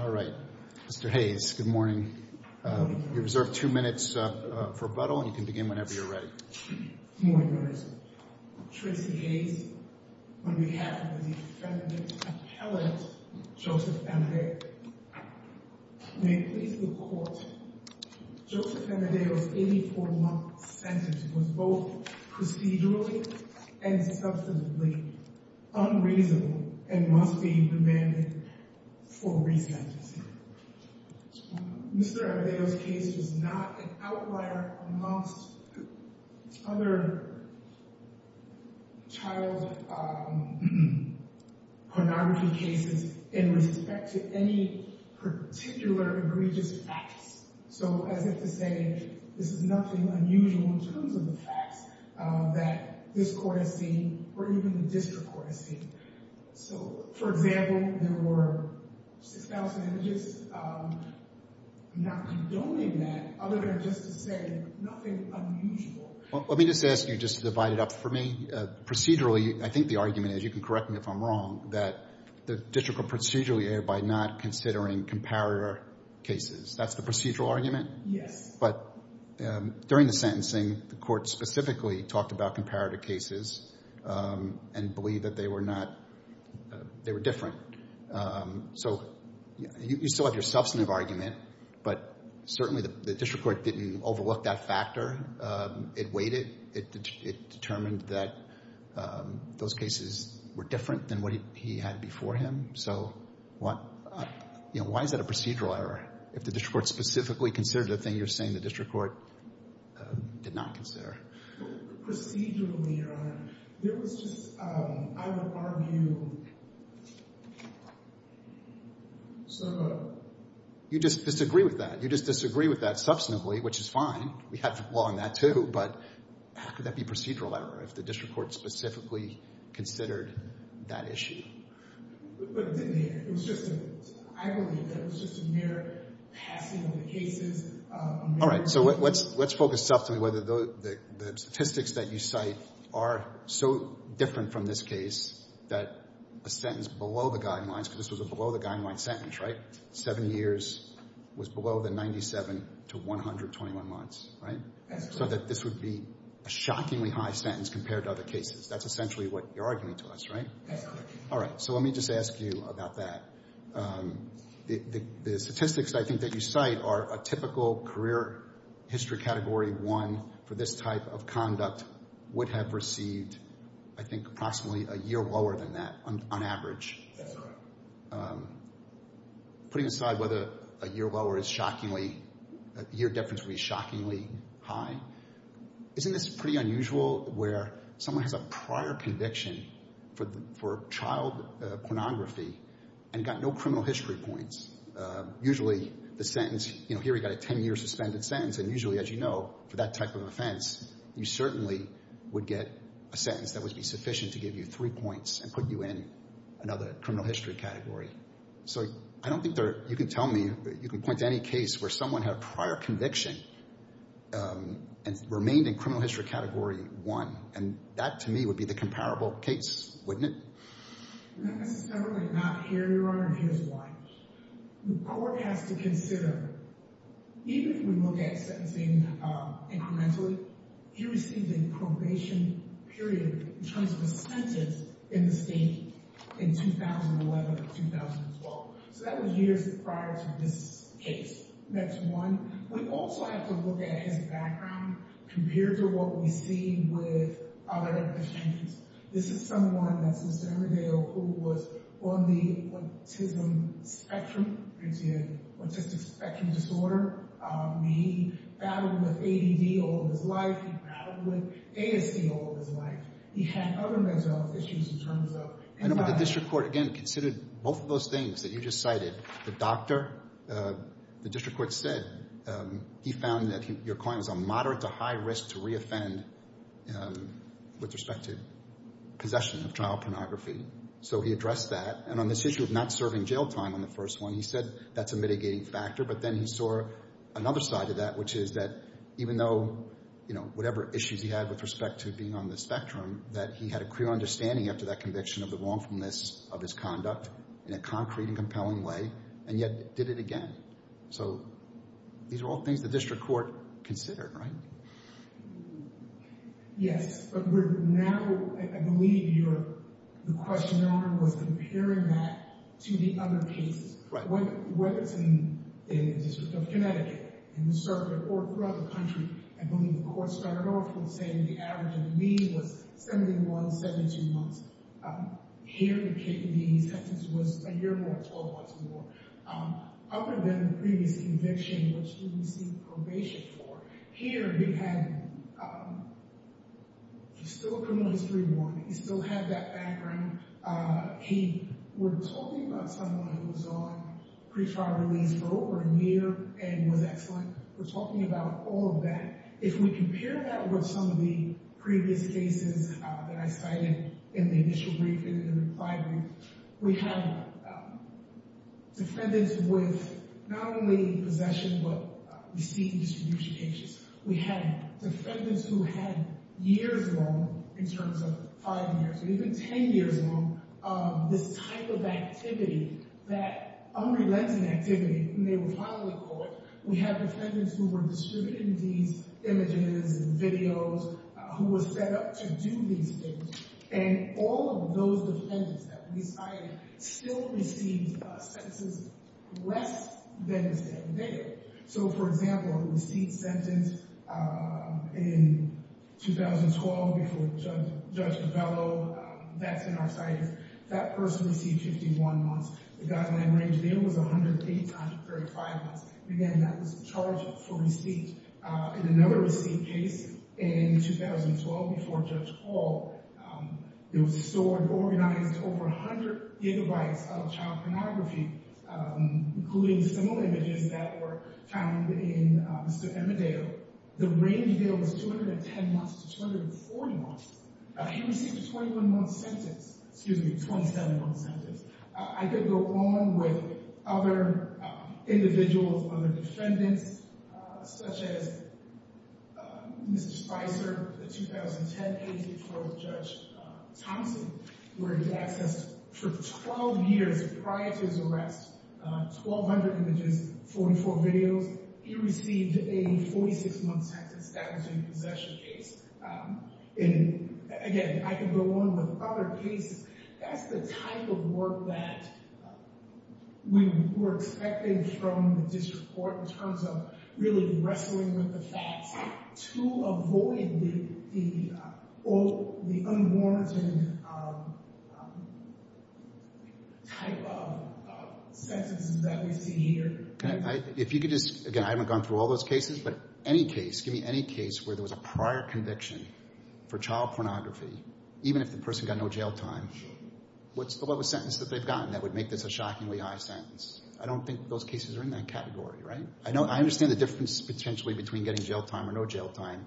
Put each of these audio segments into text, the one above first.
All right. Mr. Hayes, good morning. You're reserved two minutes for rebuttal, and you can begin whenever you're ready. Good morning, Your Honor. Tracy Hayes, on behalf of the defendant's appellate, Joseph Amadeo. May it please the Court, Joseph Amadeo's 84-month sentence was both procedurally and substantively unreasonable and must be demanded for resentencing. Mr. Amadeo's case is not an outlier amongst other child pornography cases in respect to any particular egregious facts. So as if to say this is nothing unusual in terms of the facts that this court has seen or even the district court has seen. So, for example, there were 6,000 images. I'm not condoning that other than just to say nothing unusual. Well, let me just ask you just to divide it up for me. Procedurally, I think the argument is, you can correct me if I'm wrong, that the district court procedurally erred by not considering comparator cases. That's the procedural argument? Yes. But during the sentencing, the court specifically talked about comparator cases and believed that they were not, they were different. So you still have your substantive argument, but certainly the district court didn't overlook that factor. It weighed it. It determined that those cases were different than what he had before him. So what, you know, why is that a procedural error if the district court specifically considered the thing you're saying the district court did not consider? Procedurally, Your Honor, there was just, I would argue, sort of a... You just disagree with that. You just disagree with that substantively, which is fine. We have the law on that too. But how could that be procedural error if the district court specifically considered that issue? But it was just, I believe that it was just a mere passing of the cases. All right. So let's focus subtly whether the statistics that you cite are so different from this case that a sentence below the guidelines, because this was a below the guidelines sentence, right? Seven years was below the 97 to 121 months, right? So that this would be a shockingly high sentence compared to other cases. That's essentially what you're arguing to us, right? All right. So let me just ask you about that. The statistics, I think, that you cite are a typical career history category one for this type of conduct would have received, I think, approximately a year lower than that on average. That's right. Putting aside whether a year lower is shockingly, a year difference would be shockingly high, isn't this pretty unusual where someone has a prior conviction for child pornography and got no criminal history points? Usually the sentence, you know, here we've got a 10-year suspended sentence, and usually, as you know, for that type of offense, you certainly would get a sentence that would be sufficient to give you three points and put you in another criminal history category. So I don't think you can tell me, you can point to any case where someone had a prior conviction and remained in criminal history category one, and that to me would be the comparable case, wouldn't it? Not necessarily not here, Your Honor, and here's why. The court has to consider, even if we look at sentencing incrementally, he received a probation period in terms of a sentence in the state in 2011 or 2012. So that was years prior to this case. Next one. We also have to look at his background compared to what we see with other defendants. This is someone that's in San Rodeo who was on the autism spectrum, autistic spectrum disorder. He battled with ADD all of his life. He battled with ASD all of his life. He had other mental health issues in terms of— I know, but the district court, again, considered both of those things that you just cited. The doctor, the district court said he found that your client was on moderate to high risk to reoffend with respect to possession of trial pornography. So he addressed that. And on this issue of not serving jail time on the first one, he said that's a mitigating factor. But then he saw another side of that, which is that even though, you know, whatever issues he had with respect to being on the spectrum, that he had a clear understanding after that conviction of the wrongfulness of his conduct in a concrete and compelling way, and yet did it again. So these are all things the district court considered, right? Yes. But we're now—I believe your question, Your Honor, was comparing that to the other cases. Whether it's in the District of Connecticut, in the circuit, or throughout the country, I believe the court started off with saying the average of the means was 71, 72 months. Here, the sentence was a year and a half, 12 months more. Other than the previous conviction, which he received probation for, here he had—he's still a criminal history warrant. He still had that background. He—we're talking about someone who was on pre-trial release for over a year and was excellent. We're talking about all of that. If we compare that with some of the previous cases that I cited in the initial brief and in the reply brief, we have defendants with not only possession but receipt and distribution cases. We have defendants who had years wrong in terms of five years or even 10 years wrong of this type of activity, that unrelenting activity when they were finally caught. We have defendants who were distributed in these images and videos, who were set up to do these things. And all of those defendants that we cited still received sentences less than they did. So, for example, the receipt sentence in 2012 before Judge Capello, that's in our citing. That person received 51 months. The Guzman-Rangel deal was 108 times 35 months. Again, that was charged for receipt. In another receipt case in 2012 before Judge Hall, it was stored and organized over 100 gigabytes of child pornography, including similar images that were found in Mr. Emmerdale. The Range deal was 210 months to 240 months. He received a 21-month sentence—excuse me, 27-month sentence. I could go on with other individuals, other defendants, such as Mr. Spicer, the 2010 case before Judge Thompson, where he was accessed for 12 years prior to his arrest, 1,200 images, 44 videos. He received a 46-month sentence. That was in the possession case. And, again, I could go on with other cases. That's the type of work that we were expecting from the district court in terms of really wrestling with the facts to avoid the unwarranted type of sentences that we see here. If you could just—again, I haven't gone through all those cases, but any case, give me any case where there was a prior conviction for child pornography, even if the person got no jail time. What's the lowest sentence that they've gotten that would make this a shockingly high sentence? I don't think those cases are in that category, right? I understand the difference potentially between getting jail time or no jail time,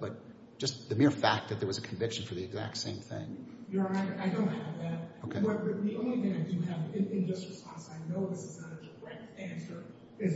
but just the mere fact that there was a conviction for the exact same thing. Your Honor, I don't have that. But the only thing I do have in just response, and I know this is not a direct answer, is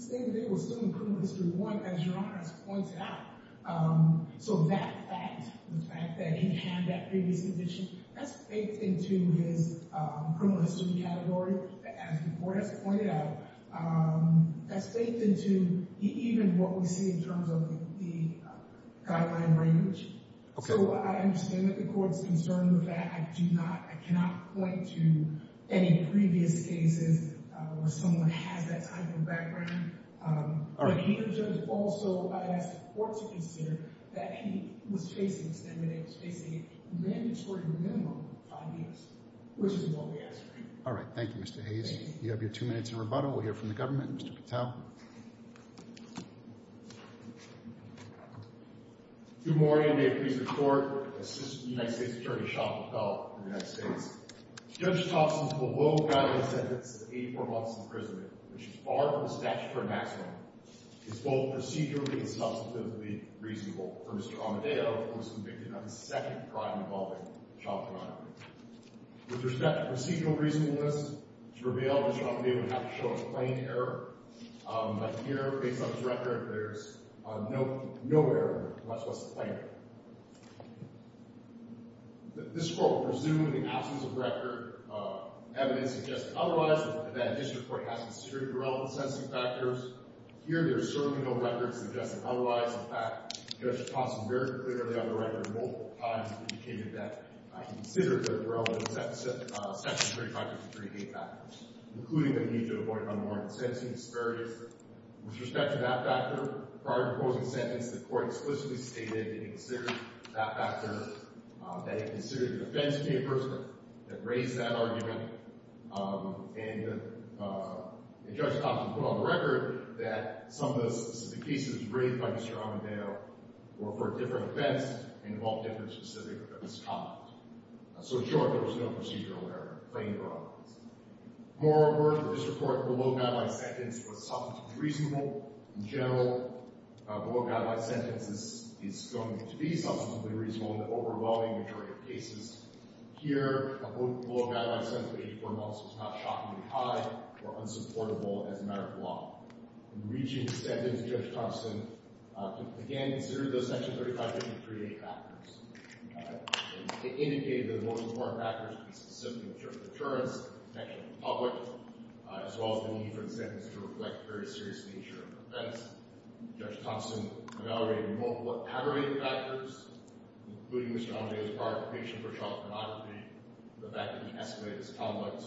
he was still in criminal history one, as Your Honor has pointed out. So that fact, the fact that he had that previous conviction, that's baked into his criminal history category, as the court has pointed out. That's baked into even what we see in terms of the guideline range. So I understand that the court's concerned with that. I do not—I cannot point to any previous cases where someone has that type of background. All right. But here, Judge, also I ask the court to consider that he was facing a sentence, that he was facing a mandatory remand for five years, which is what we're asking. All right. Thank you, Mr. Hayes. Thank you. You have your two minutes in rebuttal. We'll hear from the government. Mr. Patel. Thank you, Your Honor. Good morning, and may it please the Court, Assistant United States Attorney Sean Patel of the United States. Judge Thompson's below-guideline sentence of 84 months in prison, which is far from the statute for a maximum, is both procedurally and substantively reasonable for Mr. Almedeo, who was convicted on the second crime involving child pornography. With respect to procedural reasonableness, Mr. Almedeo would have to show a plain error. But here, based on his record, there's no error, much less a plain error. This Court will presume, in the absence of record, evidence suggesting otherwise, and that a district court has considered the relevant sentencing factors. Here, there is certainly no record suggesting otherwise. In fact, Judge Thompson very clearly on the record multiple times indicated that he considered the relevant Section 3553A factors, including the need to avoid unwarranted sentencing disparities. With respect to that factor, prior to proposing the sentence, the Court explicitly stated it considered that factor, that it considered the defense papers that raised that argument, and Judge Thompson put on the record that some of the cases raised by Mr. Almedeo were for different events and involved different specifics of this conduct. So, in short, there was no procedural error, plain or otherwise. Moreover, the district court's below-guideline sentence was substantively reasonable. In general, a below-guideline sentence is going to be substantively reasonable in the overwhelming majority of cases. Here, a below-guideline sentence of 84 months was not shockingly high or unsupportable as a matter of law. In reaching the sentence, Judge Thompson, again, considered those Section 3553A factors. It indicated that the most important factors would be specific insurance, protection of the public, as well as the need for the sentence to reflect the very serious nature of the offense. Judge Thompson evaluated multiple aggravating factors, including Mr. Almedeo's prior conviction for child pornography, the fact that he estimated his conduct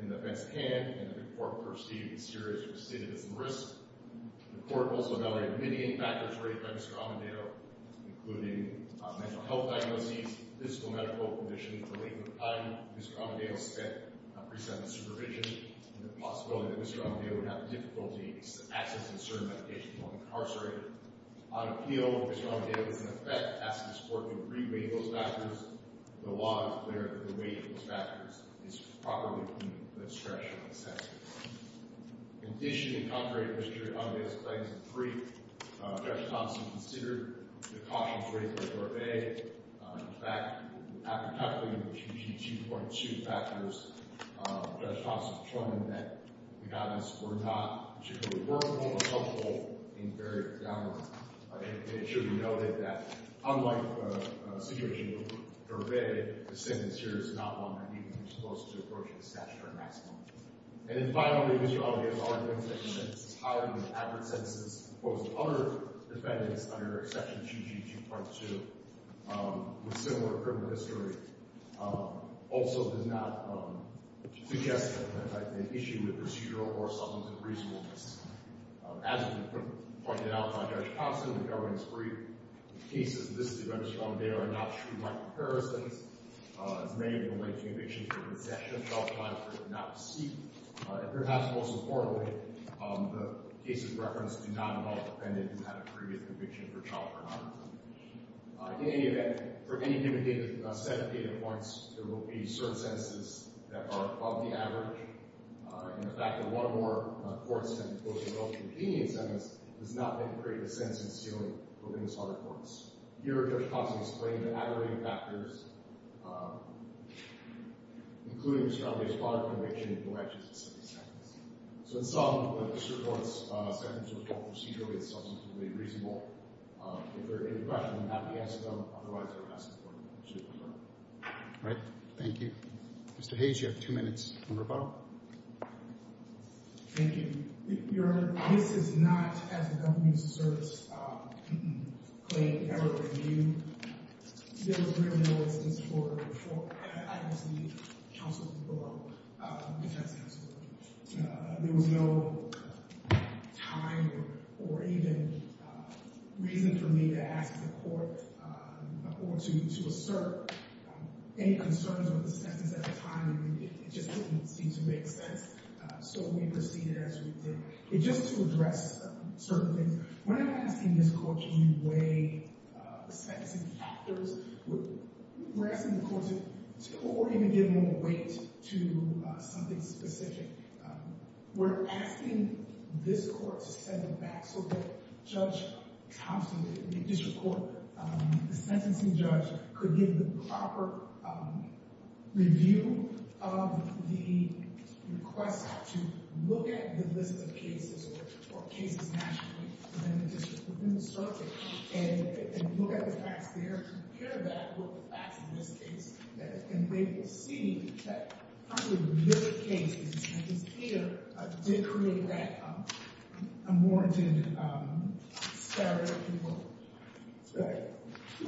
in the offense at hand, and that the court perceived the serious recidivism risk. The court also evaluated many factors raised by Mr. Almedeo, including mental health diagnoses, physical and medical conditions, the length of time Mr. Almedeo spent on pre-sentence supervision, and the possibility that Mr. Almedeo would have difficulty accessing certain medications while incarcerated. On appeal, Mr. Almedeo was in effect asking his court to re-weight those factors. The law is clear that the weight of those factors is properly to meet the discretion of the sentence. In addition, in contrary to Mr. Almedeo's claims in three, Judge Thompson considered the cautions raised by Court of A. In fact, after tackling the QG 2.2 factors, Judge Thompson determined that the guidance were not particularly The sentence here is not one that even comes close to approaching the statutory maximum. And then finally, Mr. Almedeo's argument that his highly accurate sentences opposed to other defendants under Section QG 2.2, with similar criminal history, also did not suggest an issue with procedural or substantive reasonableness. As has been pointed out by Judge Thompson, the government's brief, the cases of this defendant, Mr. Almedeo, are not true-like comparisons. As many of you will know, two convictions were in the session. Judge Thompson did not proceed. And perhaps most importantly, the cases referenced do not involve defendants who had a previous conviction for child pornography. In any event, for any given set of data points, there will be certain sentences that are above the average. And the fact that one or more courts have opposed to those competing sentences does not make or create a sense in stealing from the other courts. Here, Judge Thompson explained the adequate factors, including Mr. Almedeo's father's conviction, and the legislative sentence. So in sum, Mr. Thornton's sentence was both procedurally and substantively reasonable. If there are any questions, I'm happy to answer them. Otherwise, I will pass this board. All right. Thank you. Mr. Hayes, you have two minutes on rebuttal. Thank you. Your Honor, this is not, as a government service claim, ever reviewed. There was really no instance for it before. I obviously counseled below defense counsel. There was no time or even reason for me to ask the court or to assert any concerns with the sentence at the time. It just didn't seem to make sense. So we proceeded as we did. Just to address certain things, when I'm asking this court, can you weigh the sentencing factors, we're asking the court to or even give more weight to something specific. We're asking this court to set it back so that Judge Thompson, the district court, the sentencing judge, could give the proper review of the request to look at the list of cases or cases nationally within the district, within the circuit, and look at the facts there, compare that with the facts in this case. And they will see that, frankly, the good cases, which is clear, did create that unwarranted scurry of people.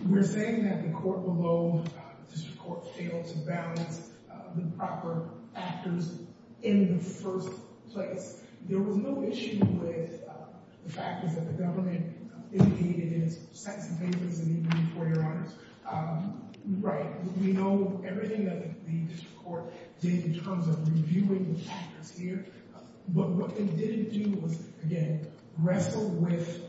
We're saying that the court below, district court, failed to balance the proper factors in the first place. There was no issue with the factors that the government indicated in its sentencing papers and even in court orders. We know everything that the district court did in terms of reviewing the factors here. But what they didn't do was, again, wrestle with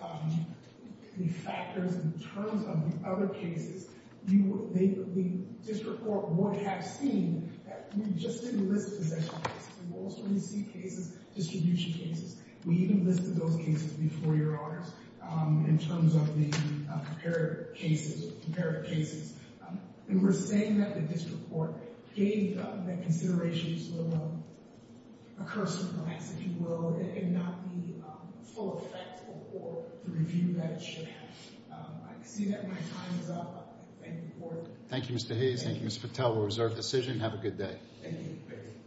the factors in terms of the other cases. The district court would have seen that we just didn't list possession cases. We also didn't see cases, distribution cases. We even listed those cases before your honors in terms of the comparative cases. And we're saying that the district court gave that consideration to introduce a little more recursive laws, if you will, and not be full effect for the review that it should have. I can see that my time is up. Thank you for your time. Thank you, Mr. Hayes. Thank you, Mr. Patel. We'll reserve the decision. Have a good day. Thank you. Thank you.